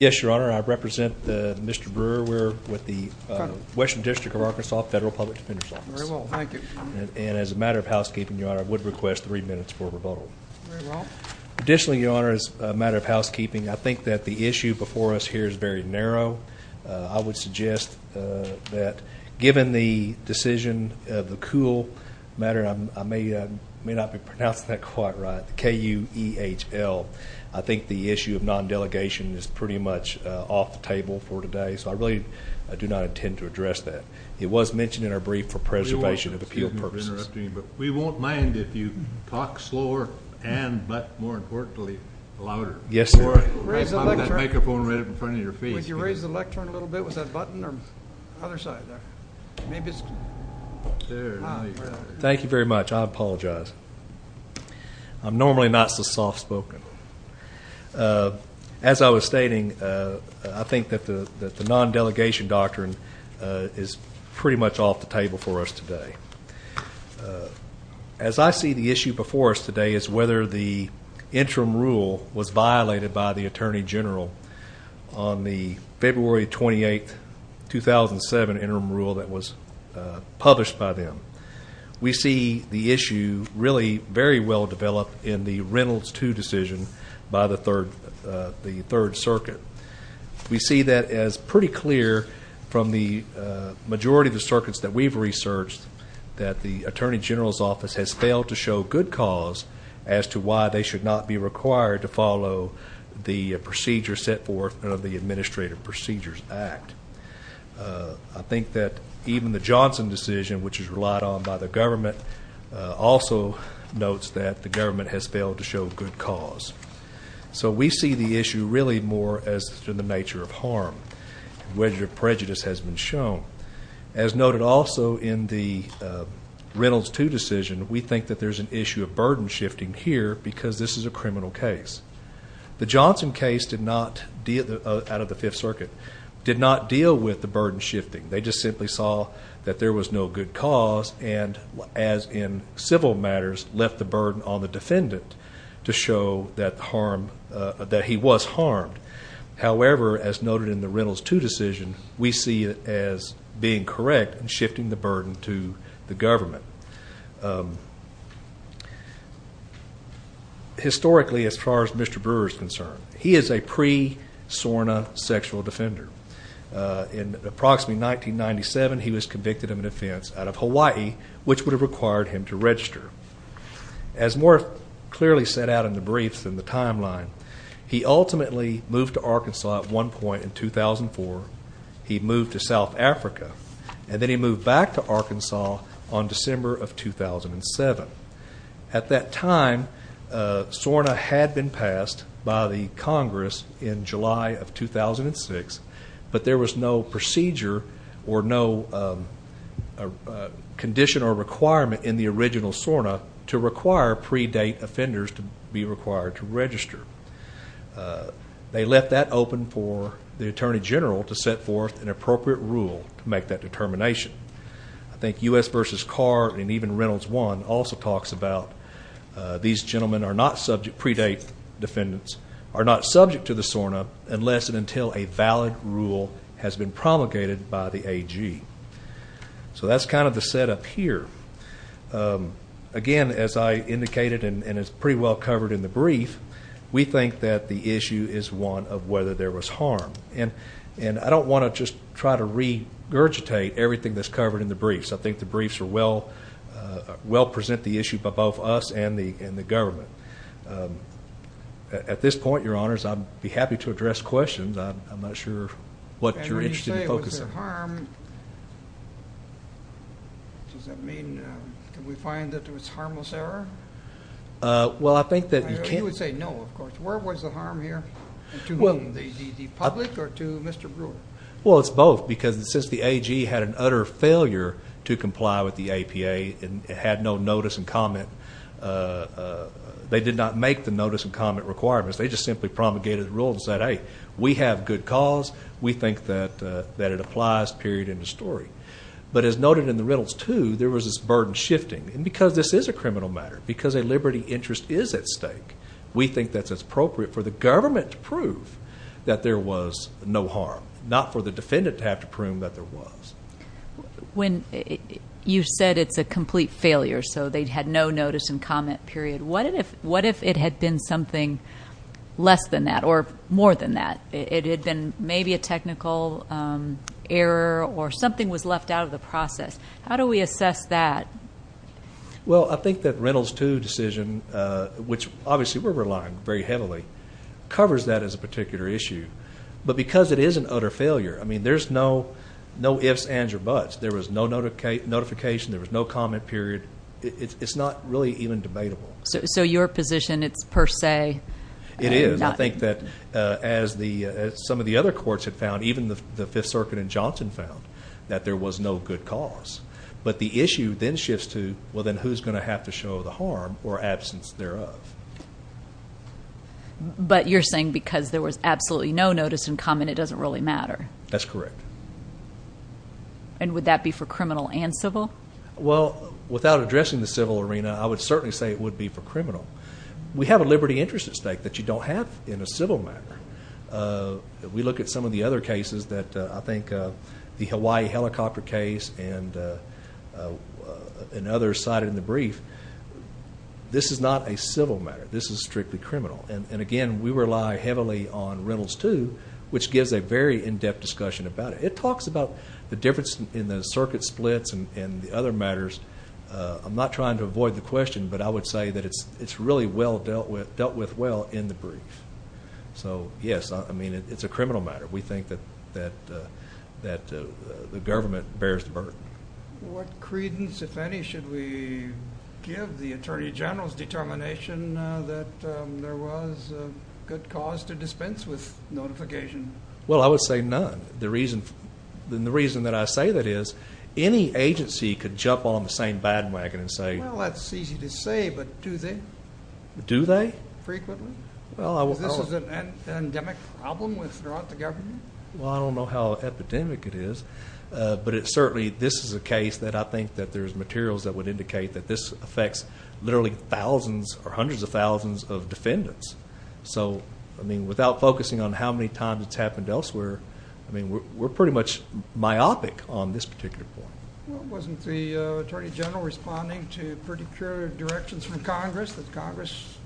Yes, Your Honor. I represent Mr. Brewer with the Western District of Arkansas Federal Public Defender's Office. And as a matter of housekeeping, Your Honor, I would request three minutes for rebuttal. Additionally, Your Honor, as a matter of housekeeping, I think that the issue before us here is very narrow. I would suggest that given the decision, the KUHL matter, I may not be pronouncing that quite right. K-U-E-H-L. I think the issue of non-delegation is pretty much off the table for today. So I really do not intend to address that. It was mentioned in our brief for preservation of appeal purposes. We won't mind if you talk slower and, but more importantly, louder. Yes, sir. Raise the microphone right up in front of your face. Would you raise the microphone a little bit with that button or other side there? Thank you very much. I apologize. I'm normally not so soft-spoken. As I was stating, I think that the non-delegation doctrine is pretty much off the table for us today. As I see the issue before us today is whether the interim rule was violated by the Attorney General on the February 28, 2007 interim rule that was published by them. We see the issue really very well developed in the Reynolds 2 decision by the Third Circuit. We see that as pretty clear from the majority of the circuits that we've researched that the Attorney General's office has failed to show good cause as to why they should not be required to follow the procedure set forth under the Administrative Procedures Act. I think that even the Johnson decision, which is relied on by the government, also notes that the government has failed to show good cause. So we see the issue really more as to the nature of harm, whether prejudice has been shown. As noted also in the Reynolds 2 decision, we think that there's an issue of burden shifting here because this is a criminal case. The Johnson case out of the Fifth Circuit did not deal with the burden shifting. They just simply saw that there was no good cause and, as in civil matters, left the burden on the defendant to show that he was harmed. However, as noted in the Reynolds 2 decision, we see it as being correct and shifting the burden to the government. Historically, as far as Mr. Brewer is concerned, he is a pre-SORNA sexual defender. In approximately 1997, he was convicted of an offense out of Hawaii, which would have required him to register. As more clearly set out in the briefs in the timeline, he ultimately moved to Arkansas at one point in 2004. He moved to South Africa, and then he moved back to Arkansas on December of 2007. At that time, SORNA had been passed by the Congress in July of 2006, but there was no procedure or no condition or requirement in the original SORNA to require pre-date offenders to be required to register. They left that open for the Attorney General to set forth an appropriate rule to make that determination. I think U.S. v. Carr and even Reynolds 1 also talks about these gentlemen are not subject—pre-date defendants—are not subject to the SORNA unless and until a valid rule has been promulgated by the AG. So that's kind of the setup here. Again, as I indicated and is pretty well covered in the brief, we think that the issue is one of whether there was harm. And I don't want to just try to regurgitate everything that's covered in the briefs. I think the briefs well present the issue by both us and the government. At this point, Your Honors, I'd be happy to address questions. I'm not sure what you're interested in focusing on. And when you say was there harm, does that mean that we find that there was harmless error? Well, I think that you can't— You would say no, of course. Where was the harm here? To the public or to Mr. Brewer? It's both because since the AG had an utter failure to comply with the APA and had no notice and comment—they did not make the notice and comment requirements. They just simply promulgated the rule and said, hey, we have good cause. We think that it applies, period, end of story. But as noted in the Reynolds 2, there was this burden shifting. And because this is a criminal matter, because a liberty interest is at stake, we think that's appropriate for the government to not for the defendant to have to prove that there was. When you said it's a complete failure, so they had no notice and comment, period, what if it had been something less than that or more than that? It had been maybe a technical error or something was left out of the process. How do we assess that? Well, I think that Reynolds 2 decision, which obviously we're relying very heavily, covers that as a particular issue. But because it is an utter failure, I mean, there's no ifs, ands, or buts. There was no notification. There was no comment, period. It's not really even debatable. So your position, it's per se? It is. I think that as some of the other courts had found, even the Fifth Circuit and Johnson found, that there was no good cause. But the issue then shifts to, well, then who's going to have to show the harm or absence thereof? But you're saying because there was absolutely no notice and comment, it doesn't really matter? That's correct. And would that be for criminal and civil? Well, without addressing the civil arena, I would certainly say it would be for criminal. We have a liberty interest at stake that you don't have in a civil matter. We look at some of the other cases that I think the Hawaii helicopter case and others cited in the brief. This is not a civil matter. This is strictly criminal. And again, we rely heavily on Reynolds II, which gives a very in-depth discussion about it. It talks about the difference in the circuit splits and the other matters. I'm not trying to avoid the question, but I would say that it's really dealt with well in the brief. So yes, I mean, it's a criminal matter. We think that the government bears the burden. What credence, if any, should we give the Attorney General's determination that there was a good cause to dispense with notification? Well, I would say none. The reason that I say that is, any agency could jump on the same bandwagon and say... Well, that's easy to say, but do they? Do they? Frequently? This is an endemic problem with the government? Well, I don't know how epidemic it is, but it certainly... This is a case that I think that there's materials that would indicate that this affects literally thousands or hundreds of thousands of defendants. So, I mean, without focusing on how many times it's happened elsewhere, I mean, we're pretty much myopic on this particular point. Well, wasn't the Attorney General responding to pretty clear directions from Congress, that Congress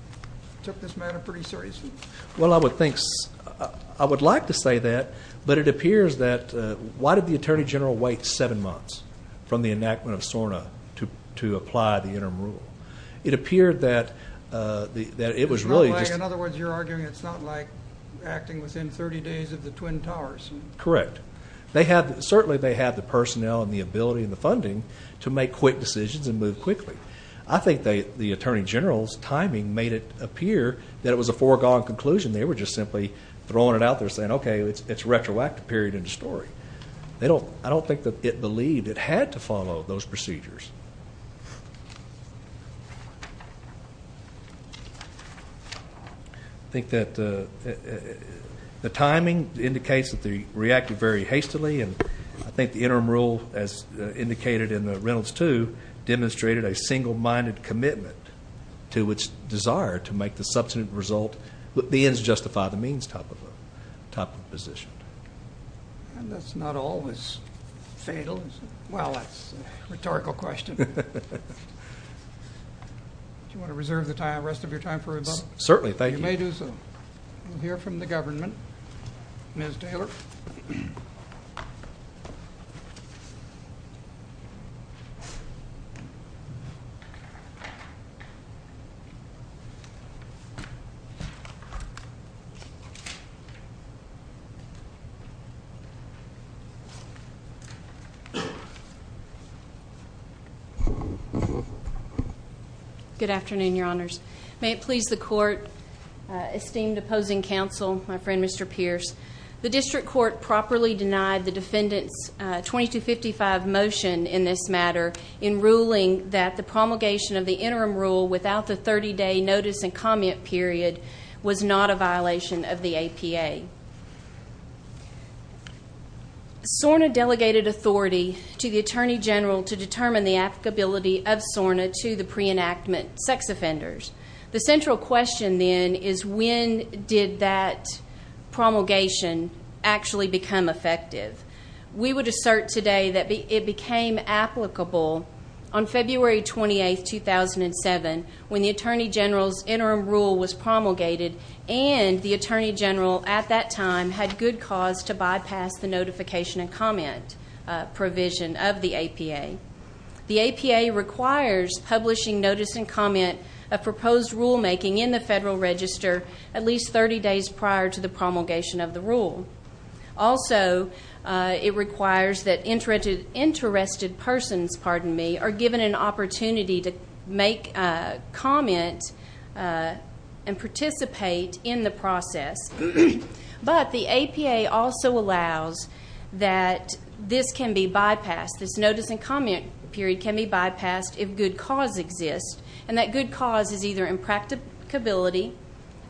took this matter pretty seriously? Well, I would like to say that, but it appears that... Why did the Attorney General wait seven months from the enactment of SORNA to apply the interim rule? It appeared that it was really just... In other words, you're arguing it's not like acting within 30 days of the Twin Towers? Correct. They have... Certainly, they have the personnel and the ability and the funding to make quick decisions and move quickly. I think the Attorney General's timing made it appear that it was a foregone conclusion. They were just simply throwing it out there saying, okay, it's a retroactive period in the story. I don't think that it believed it had to follow those procedures. I think that the timing indicates that they reacted very hastily, and I think the interim rule, as indicated in the Reynolds 2, demonstrated a single-minded commitment to its desire to make the subsequent result... The ends justify the means type of position. And that's not always fatal, is it? Well, that's a rhetorical question. Do you want to reserve the rest of your time for rebuttal? Certainly. Thank you. You may do so. We'll hear from the government. Ms. Taylor? Good afternoon, Your Honors. May it please the Court, esteemed opposing counsel, my friend, Mr. Pierce. The district court properly denied the defendant's 2255 motion in this matter in ruling that the promulgation of the interim rule without the 30-day notice and comment period was not a violation of the APA. SORNA delegated authority to the Attorney General to determine the applicability of SORNA to the pre-enactment sex offenders. The central question then is, when did that promulgation actually become effective? We would assert today that it became applicable on February 28, 2007, when the Attorney General's interim rule was promulgated and the Attorney General at that time had good cause to bypass the notification and comment provision of the APA. The APA requires publishing notice and comment of proposed rulemaking in the Federal Register at least 30 days prior to the promulgation of the rule. Also, it requires that interested persons, pardon me, are given an opportunity to make comment and participate in the process. But the APA also allows that this can be bypassed, this notice and comment period can be bypassed if good cause exists, and that good cause is either impracticability,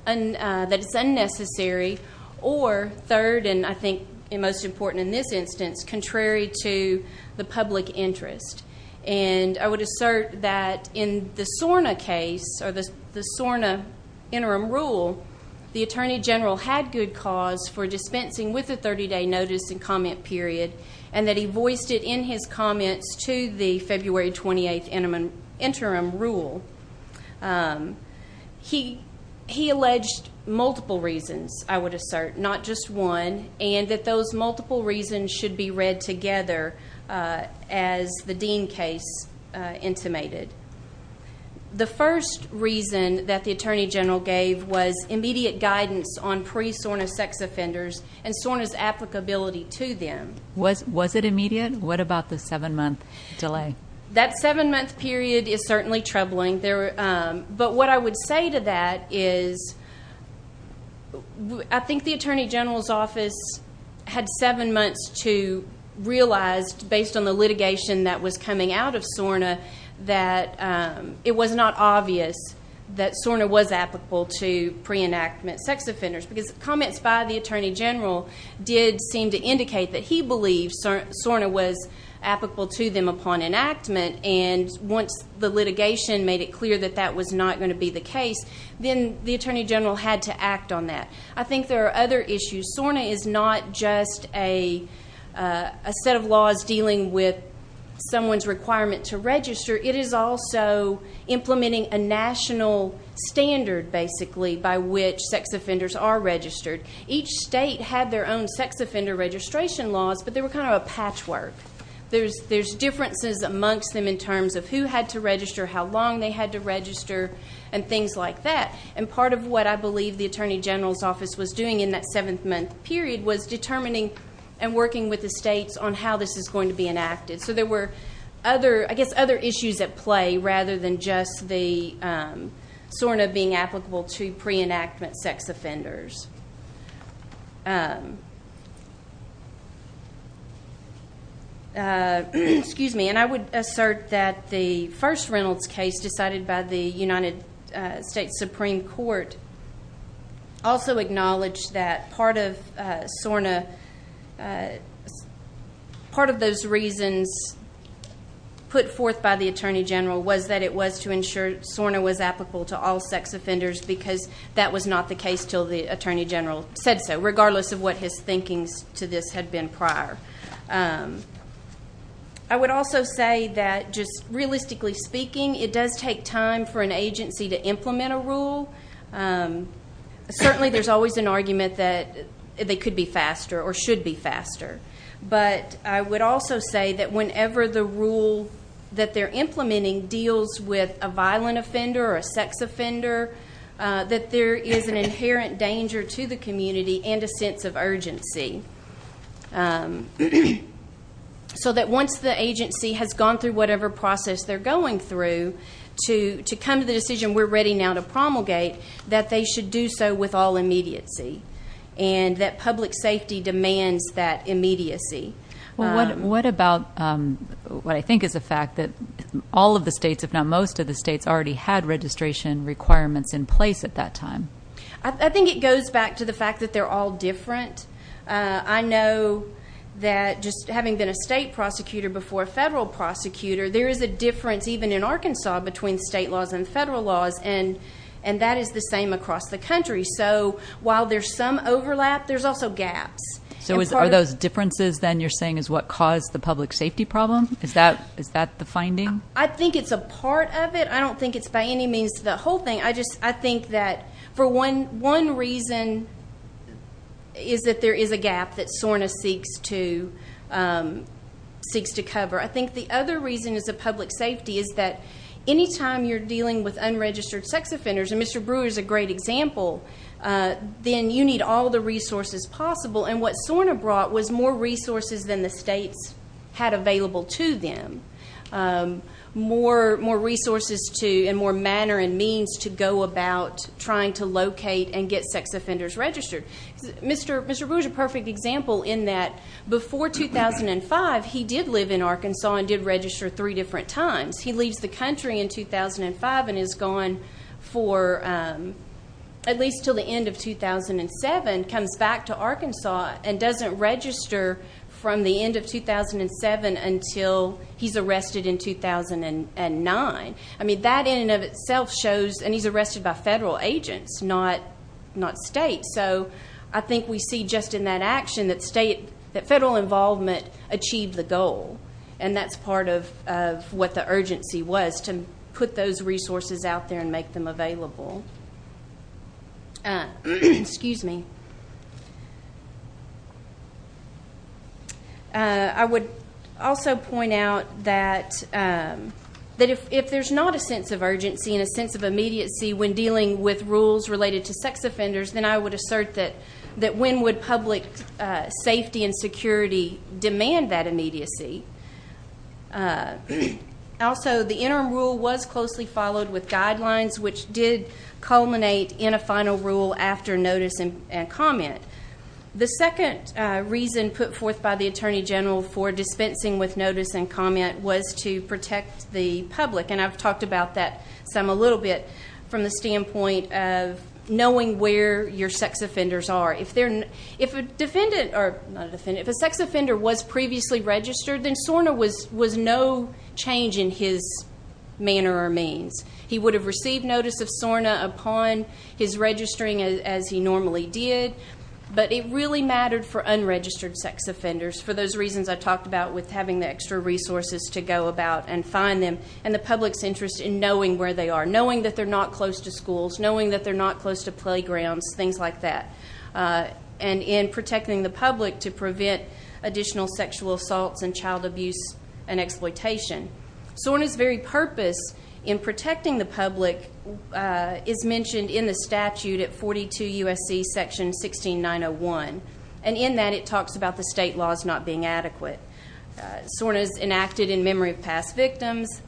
that it's unnecessary, or third and I think most important in this instance, contrary to the public interest. And I would assert that in the SORNA case or the SORNA interim rule, the Attorney General had good cause for dispensing with the 30-day notice and comment period and that he voiced it in his comments to the February 28th interim rule. He alleged multiple reasons, I would assert, not just one, and that those multiple reasons should be read together as the Dean case intimated. The first reason that the Attorney General gave was immediate guidance on pre-SORNA sex offenders and SORNA's applicability to them. Was it immediate? What about the seven-month delay? That seven-month period is certainly troubling. But what I would say to that is, I think the Attorney General's office had seven months to realize, based on the litigation that was coming out of SORNA, that it was not obvious that SORNA was applicable to pre-enactment sex offenders because comments by the Attorney General did seem to indicate that he believed SORNA was applicable to them upon enactment and once the litigation made it clear that that was not going to be the case, then the Attorney General had to act on that. I think there are other issues. SORNA is not just a set of laws dealing with someone's requirement to register. It is also implementing a national standard, basically, by which sex offenders are registered. Each state had their own sex offender registration laws, but they were kind of a patchwork. There's differences amongst them in terms of who had to register, how long they had to register, and things like that. And part of what I believe the Attorney General's office was doing in that seven-month period was determining and working with the states on how this is going to be enacted. So there were, I guess, other issues at play rather than just the SORNA being applicable to pre-enactment sex offenders. And I would assert that the first Reynolds case decided by the United States Supreme Court also acknowledged that part of SORNA, part of those reasons put forth by the Attorney General was that it was to ensure SORNA was applicable to all sex offenders because that was not the case till the Attorney General said so, regardless of what his thinking to this had been prior. I would also say that, just realistically speaking, it does take time for an agency to implement a rule. Certainly, there's always an argument that they could be faster or should be faster. But I would also say that whenever the rule that they're implementing deals with a violent offender or a sex offender, that there is an inherent danger to the community and a sense of urgency. So that once the agency has gone through whatever process they're going through to come to the decision, we're ready now to promulgate, that they should do so with all immediacy and that public safety demands that immediacy. What about what I think is the fact that all of the states, if not most of the states, already had registration requirements in place at that time? I think it goes back to the fact that they're all different. I know that just having been a state prosecutor before a federal prosecutor, there is a difference even in Arkansas between state laws and federal laws and that is the same across the country. So while there's some overlap, there's also gaps. So are those differences then you're saying is what caused the public safety problem? Is that the finding? I think it's a part of it. I don't think it's by any means the whole thing. I think that for one reason is that there is a gap that SORNA seeks to cover. I think the other reason is a public safety is that anytime you're dealing with unregistered sex offenders, and Mr. Brewer is a great example, then you need all the resources possible. What SORNA brought was more resources than the states had available to them. More resources and more manner and means to go about trying to locate and get sex offenders registered. Mr. Brewer is a perfect example in that before 2005, he did live in Arkansas and did register three different times. He leaves the country in 2005 and is gone for at least until the end of 2007, comes back to Arkansas and doesn't register from the end of 2007 until he's arrested in 2009. That in and of itself shows, and he's arrested by federal agents, not state. So I think we see just in that action that federal involvement achieved the goal. And that's part of what the urgency was, to put those resources out there and make them available. I would also point out that if there's not a sense of urgency and a sense of immediacy when dealing with rules related to sex offenders, then I would assert that when would public safety and security demand that immediacy? Also, the interim rule was closely followed with guidelines, which did culminate in a final rule after notice and comment. The second reason put forth by the Attorney General for dispensing with notice and comment was to protect the public. And I've talked about that some a little bit from the standpoint of knowing where your sex offenders are. If a sex offender was previously registered, then SORNA was no change in his manner or means. He would have received notice of SORNA upon his registering as he normally did. But it really mattered for unregistered sex offenders, for those reasons I talked about with having the extra resources to go about and find them, and the public's interest in knowing where they are, knowing that they're not close to schools, knowing that they're not close to playgrounds, things like that. And in protecting the public to prevent additional sexual assaults and child abuse and exploitation. SORNA's very purpose in protecting the public is mentioned in the statute at 42 U.S.C. section 16901. And in that, it talks about the state laws not being adequate. SORNA is enacted in memory of past victims.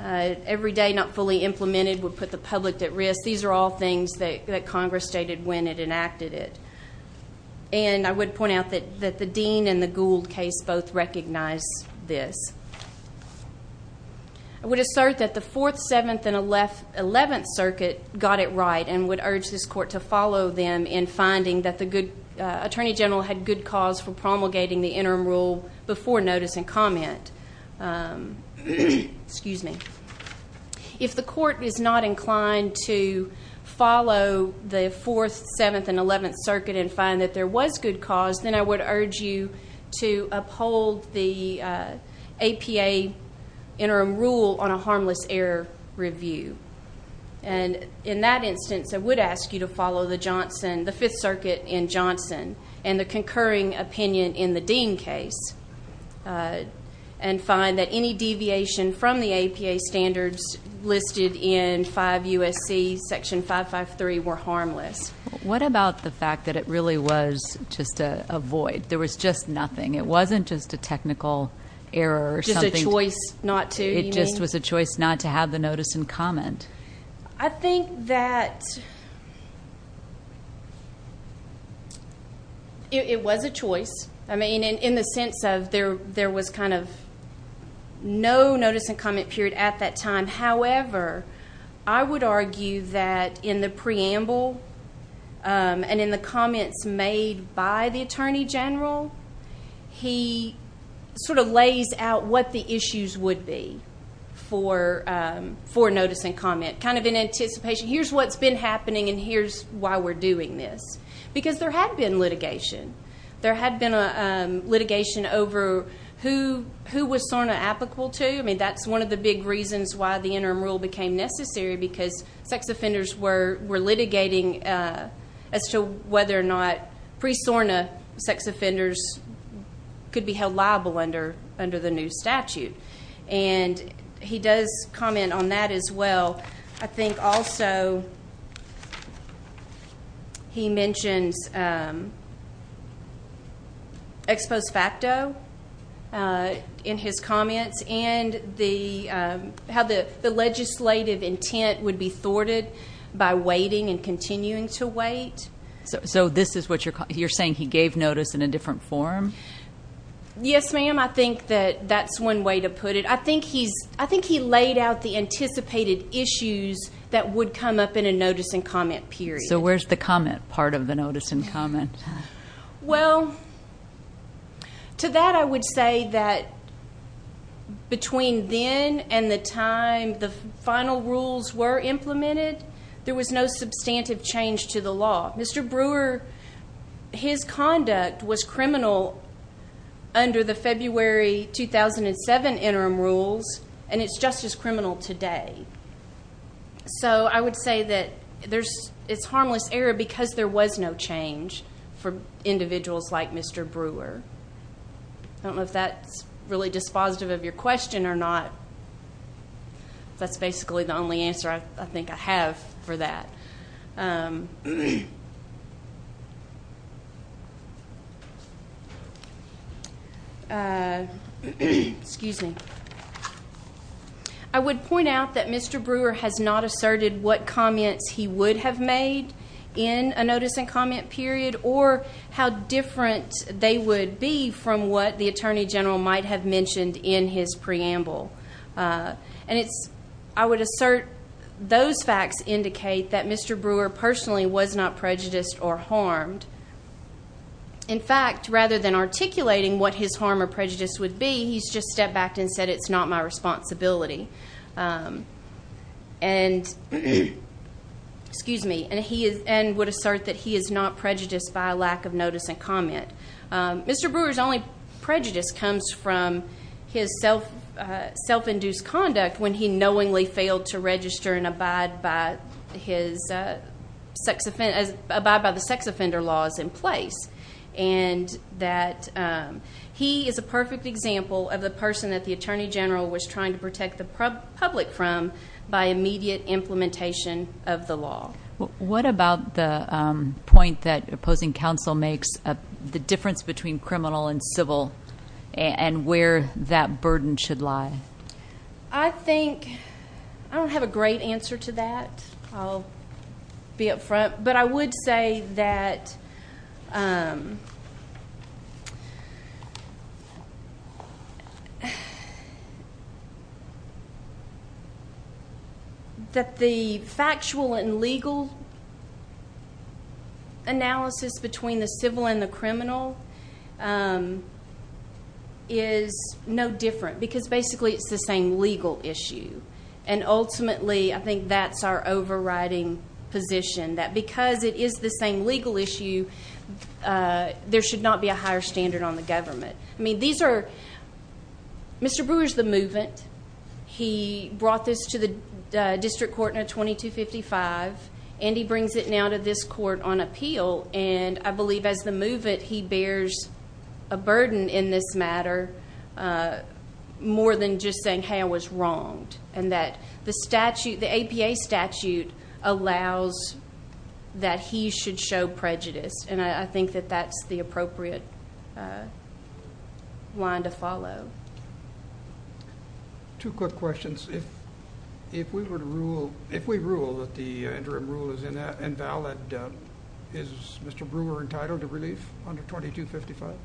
Every day not fully implemented would put the public at risk. These are all things that Congress stated when it enacted it. And I would point out that the Dean and the Gould case both recognize this. I would assert that the 4th, 7th, and 11th circuit got it right and would urge this court to follow them in finding that the attorney general had good cause for promulgating the interim rule before notice and comment. Excuse me. If the court is not inclined to follow the 4th, 7th, and 11th circuit and find that there was good cause, then I would urge you to uphold the APA interim rule on a harmless error review. And in that instance, I would ask you to follow the Johnson, the 5th circuit in Johnson, and the concurring opinion in the Dean case and find that any deviation from the APA standards listed in 5 U.S.C. section 553 were harmless. What about the fact that it really was just a void? There was just nothing. It wasn't just a technical error or something. Just a choice not to, you mean? It just was a choice not to have the notice and comment. I think that it was a choice. I mean, in the sense of there was kind of no notice and comment period at that time. However, I would argue that in the preamble and in the comments made by the Attorney General, he sort of lays out what the issues would be for notice and comment, kind of in anticipation. Here's what's been happening and here's why we're doing this. Because there had been litigation. There had been litigation over who was SORNA applicable to. That's one of the big reasons why the interim rule became necessary, because sex offenders were litigating as to whether or not pre-SORNA sex offenders could be held liable under the new statute. He does comment on that as well. I think also he mentions ex post facto in his comments. How the legislative intent would be thwarted by waiting and continuing to wait. So this is what you're saying? He gave notice in a different form? Yes, ma'am. I think that that's one way to put it. I think he laid out the anticipated issues that would come up in a notice and comment period. So where's the comment part of the notice and comment? Well, to that I would say that between then and the time the final rules were implemented, there was no substantive change to the law. Mr. Brewer, his conduct was criminal under the February 2007 interim rules and it's just as criminal today. So I would say that it's harmless error because there was no change. For individuals like Mr. Brewer. I don't know if that's really dispositive of your question or not. That's basically the only answer I think I have for that. Excuse me. I would point out that Mr. Brewer has not asserted what comments he would have made in a notice and comment period or how different they would be from what the Attorney General might have mentioned in his preamble. I would assert those facts indicate that Mr. Brewer personally was not prejudiced or harmed. In fact, rather than articulating what his harm or prejudice would be, he's just stepped back and said it's not my responsibility. And would assert that he is not prejudiced by a lack of notice and comment. Mr. Brewer's only prejudice comes from his self-induced conduct when he knowingly failed to register and abide by the sex offender laws in place. He is a perfect example of the person that the Attorney General was trying to protect the public from by immediate implementation of the law. What about the point that opposing counsel makes, the difference between criminal and civil and where that burden should lie? I think I don't have a great answer to that. I'll be up front. But I would say that the factual and legal analysis between the civil and the criminal is no different because basically it's the same legal issue. And ultimately, I think that's our overriding position. That because it is the same legal issue, there should not be a higher standard on the government. Mr. Brewer's the movement. He brought this to the district court in a 2255. And he brings it now to this court on appeal. And I believe as the movement, he bears a burden in this matter more than just saying, hey, I was wronged. And that the APA statute allows that he should show prejudice. And I think that that's the appropriate line to follow. Two quick questions. If we rule that the interim rule is invalid, is Mr. Brewer entitled to relief under 2255?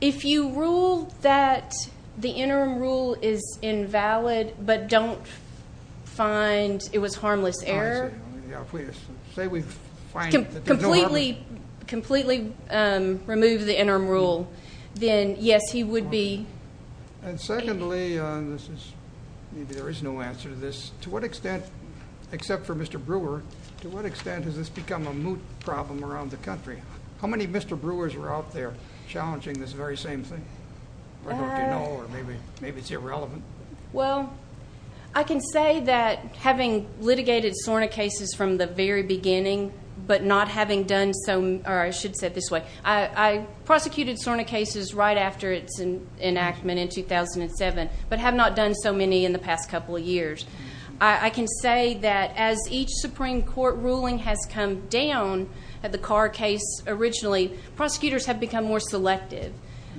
If you rule that the interim rule is invalid, but don't find it was harmless error. Completely remove the interim rule, then yes, he would be. And secondly, there is no answer to this. To what extent, except for Mr. Brewer, to what extent has this become a moot problem around the country? How many Mr. Brewers are out there challenging this very same thing? Or don't you know? Or maybe it's irrelevant. Well, I can say that having litigated SORNA cases from the very beginning, but not having done so, or I should say it this way. I prosecuted SORNA cases right after its enactment in 2007, but have not done so many in the past couple of years. I can say that as each Supreme Court ruling has come down at the Carr case originally, prosecutors have become more selective.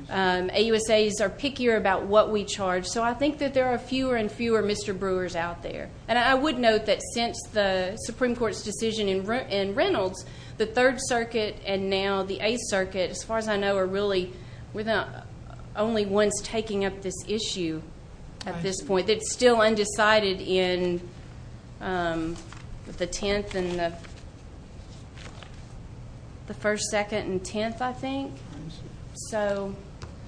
AUSAs are pickier about what we charge. So I think that there are fewer and fewer Mr. Brewers out there. And I would note that since the Supreme Court's decision in Reynolds, the Third Circuit and now the Eighth Circuit, as far as I know, are really the only ones taking up this issue at this point. It's still undecided in the 10th and the first, second and 10th, I think. So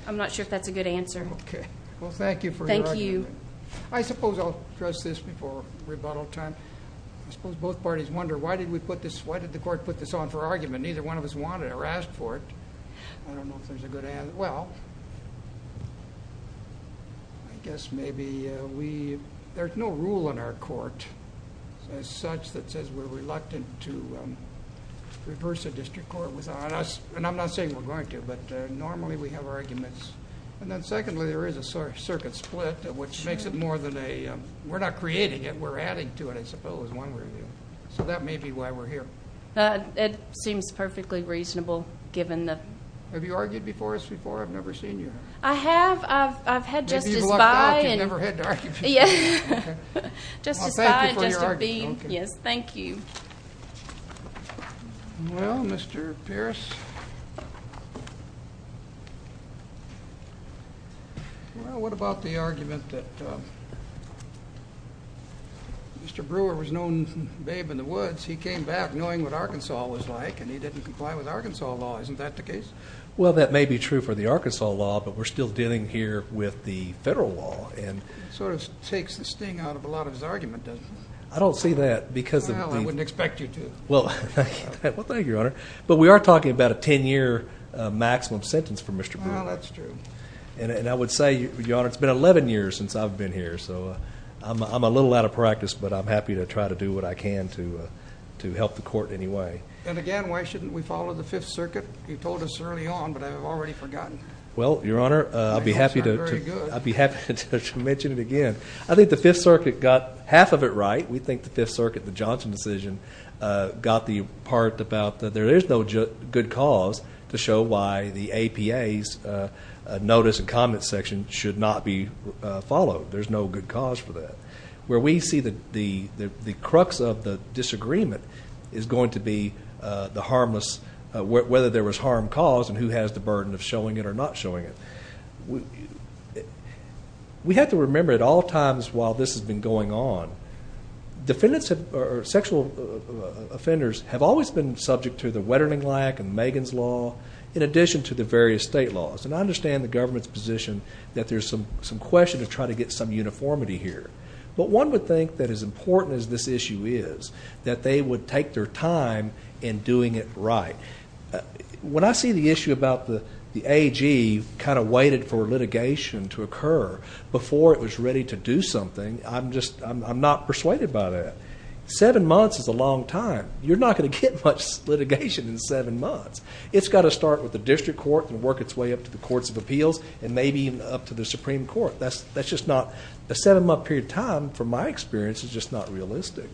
I'm not sure if that's a good answer. Okay. Well, thank you for your argument. Thank you. I suppose I'll address this before rebuttal time. I suppose both parties wonder why did we put this? Why did the court put this on for argument? Neither one of us wanted or asked for it. I don't know if there's a good answer. Well, I guess maybe there's no rule in our court as such that says we're reluctant to reverse a district court without us. And I'm not saying we're going to, but normally we have arguments. And then secondly, there is a circuit split, which makes it more than a... We're not creating it. We're adding to it, I suppose, one way or the other. So that may be why we're here. It seems perfectly reasonable given the... Have you argued before us before? I've never seen you. I have. I've had Justice... If you've lucked out, you've never had to argue before. Yeah. Justice Bye and Justice Beane. Yes. Thank you. Well, Mr. Pierce. Well, what about the argument that Mr. Brewer was known as Babe in the Woods. Isn't that the case? Well, that may be true for the Arkansas law, but we're still dealing here with the federal law. And it sort of takes the sting out of a lot of his argument, doesn't it? I don't see that because of the... Well, I wouldn't expect you to. Well, thank you, Your Honor. But we are talking about a 10-year maximum sentence for Mr. Brewer. Well, that's true. And I would say, Your Honor, it's been 11 years since I've been here. So I'm a little out of practice, but I'm happy to try to do what I can to help the court in any way. And again, why shouldn't we follow the Fifth Circuit? You told us early on, but I've already forgotten. Well, Your Honor, I'll be happy to mention it again. I think the Fifth Circuit got half of it right. We think the Fifth Circuit, the Johnson decision, got the part about that there is no good cause to show why the APA's notice and comment section should not be followed. There's no good cause for that. Where we see the crux of the disagreement is going to be the harmless... whether there was harm caused and who has the burden of showing it or not showing it. We have to remember at all times while this has been going on, sexual offenders have always been subject to the Wetterling-Lack and Megan's Law, in addition to the various state laws. And I understand the government's position that there's some question to try to get some uniformity here. But one would think that as important as this issue is, that they would take their time in doing it right. When I see the issue about the AG kind of waited for litigation to occur before it was ready to do something, I'm not persuaded by that. Seven months is a long time. You're not going to get much litigation in seven months. It's got to start with the district court and work its way up to the courts of appeals and maybe even up to the Supreme Court. A seven-month period of time, from my experience, is just not realistic.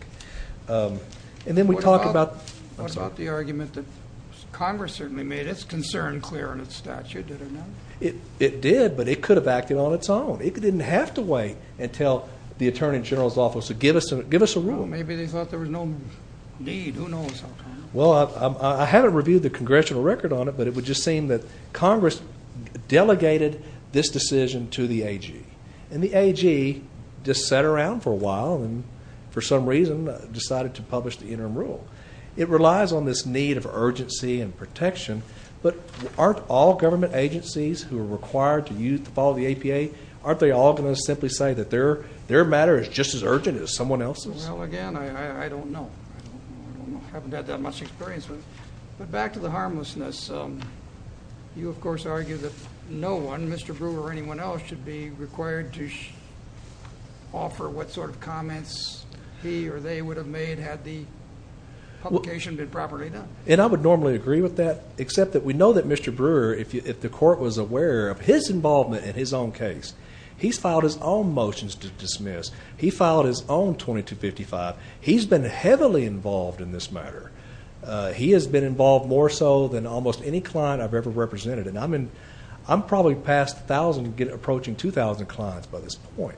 And then we talk about... It did, but it could have acted on its own. It didn't have to wait until the Attorney General's office would give us a rule. Well, maybe they thought there was no need. Who knows? Well, I haven't reviewed the congressional record on it, but it would just seem that Congress delegated this decision to the AG. And the AG just sat around for a while and for some reason decided to publish the interim rule. It relies on this need of urgency and protection, but aren't all government agencies who are required to follow the APA, aren't they all going to simply say that their matter is just as urgent as someone else's? Well, again, I don't know. I haven't had that much experience with it. But back to the harmlessness. You, of course, argue that no one, Mr. Brewer or anyone else, should be required to offer what sort of comments he or they would have made had the publication been properly done. And I would normally agree with that, except that we know that Mr. Brewer, if the court was aware of his involvement in his own case, he's filed his own motions to dismiss. He filed his own 2255. He's been heavily involved in this matter. He has been involved more so than almost any client I've ever represented. And I'm probably past 1,000 and approaching 2,000 clients by this point.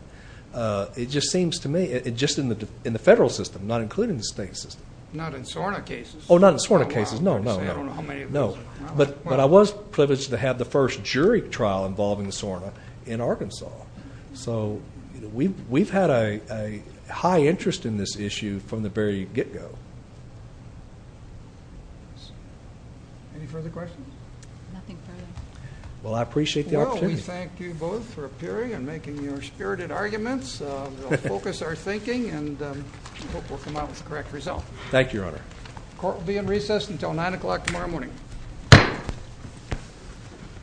It just seems to me, just in the federal system, not including the state system. Not in SORNA cases? Oh, not in SORNA cases. No, no, no. I don't know how many of those there are. But I was privileged to have the first jury trial involving SORNA in Arkansas. So we've had a high interest in this issue from the very get-go. Any further questions? Nothing further. Well, I appreciate the opportunity. We thank you both for appearing and making your spirited arguments. We'll focus our thinking and hope we'll come out with the correct result. Thank you, Your Honor. Court will be in recess until 9 o'clock tomorrow morning.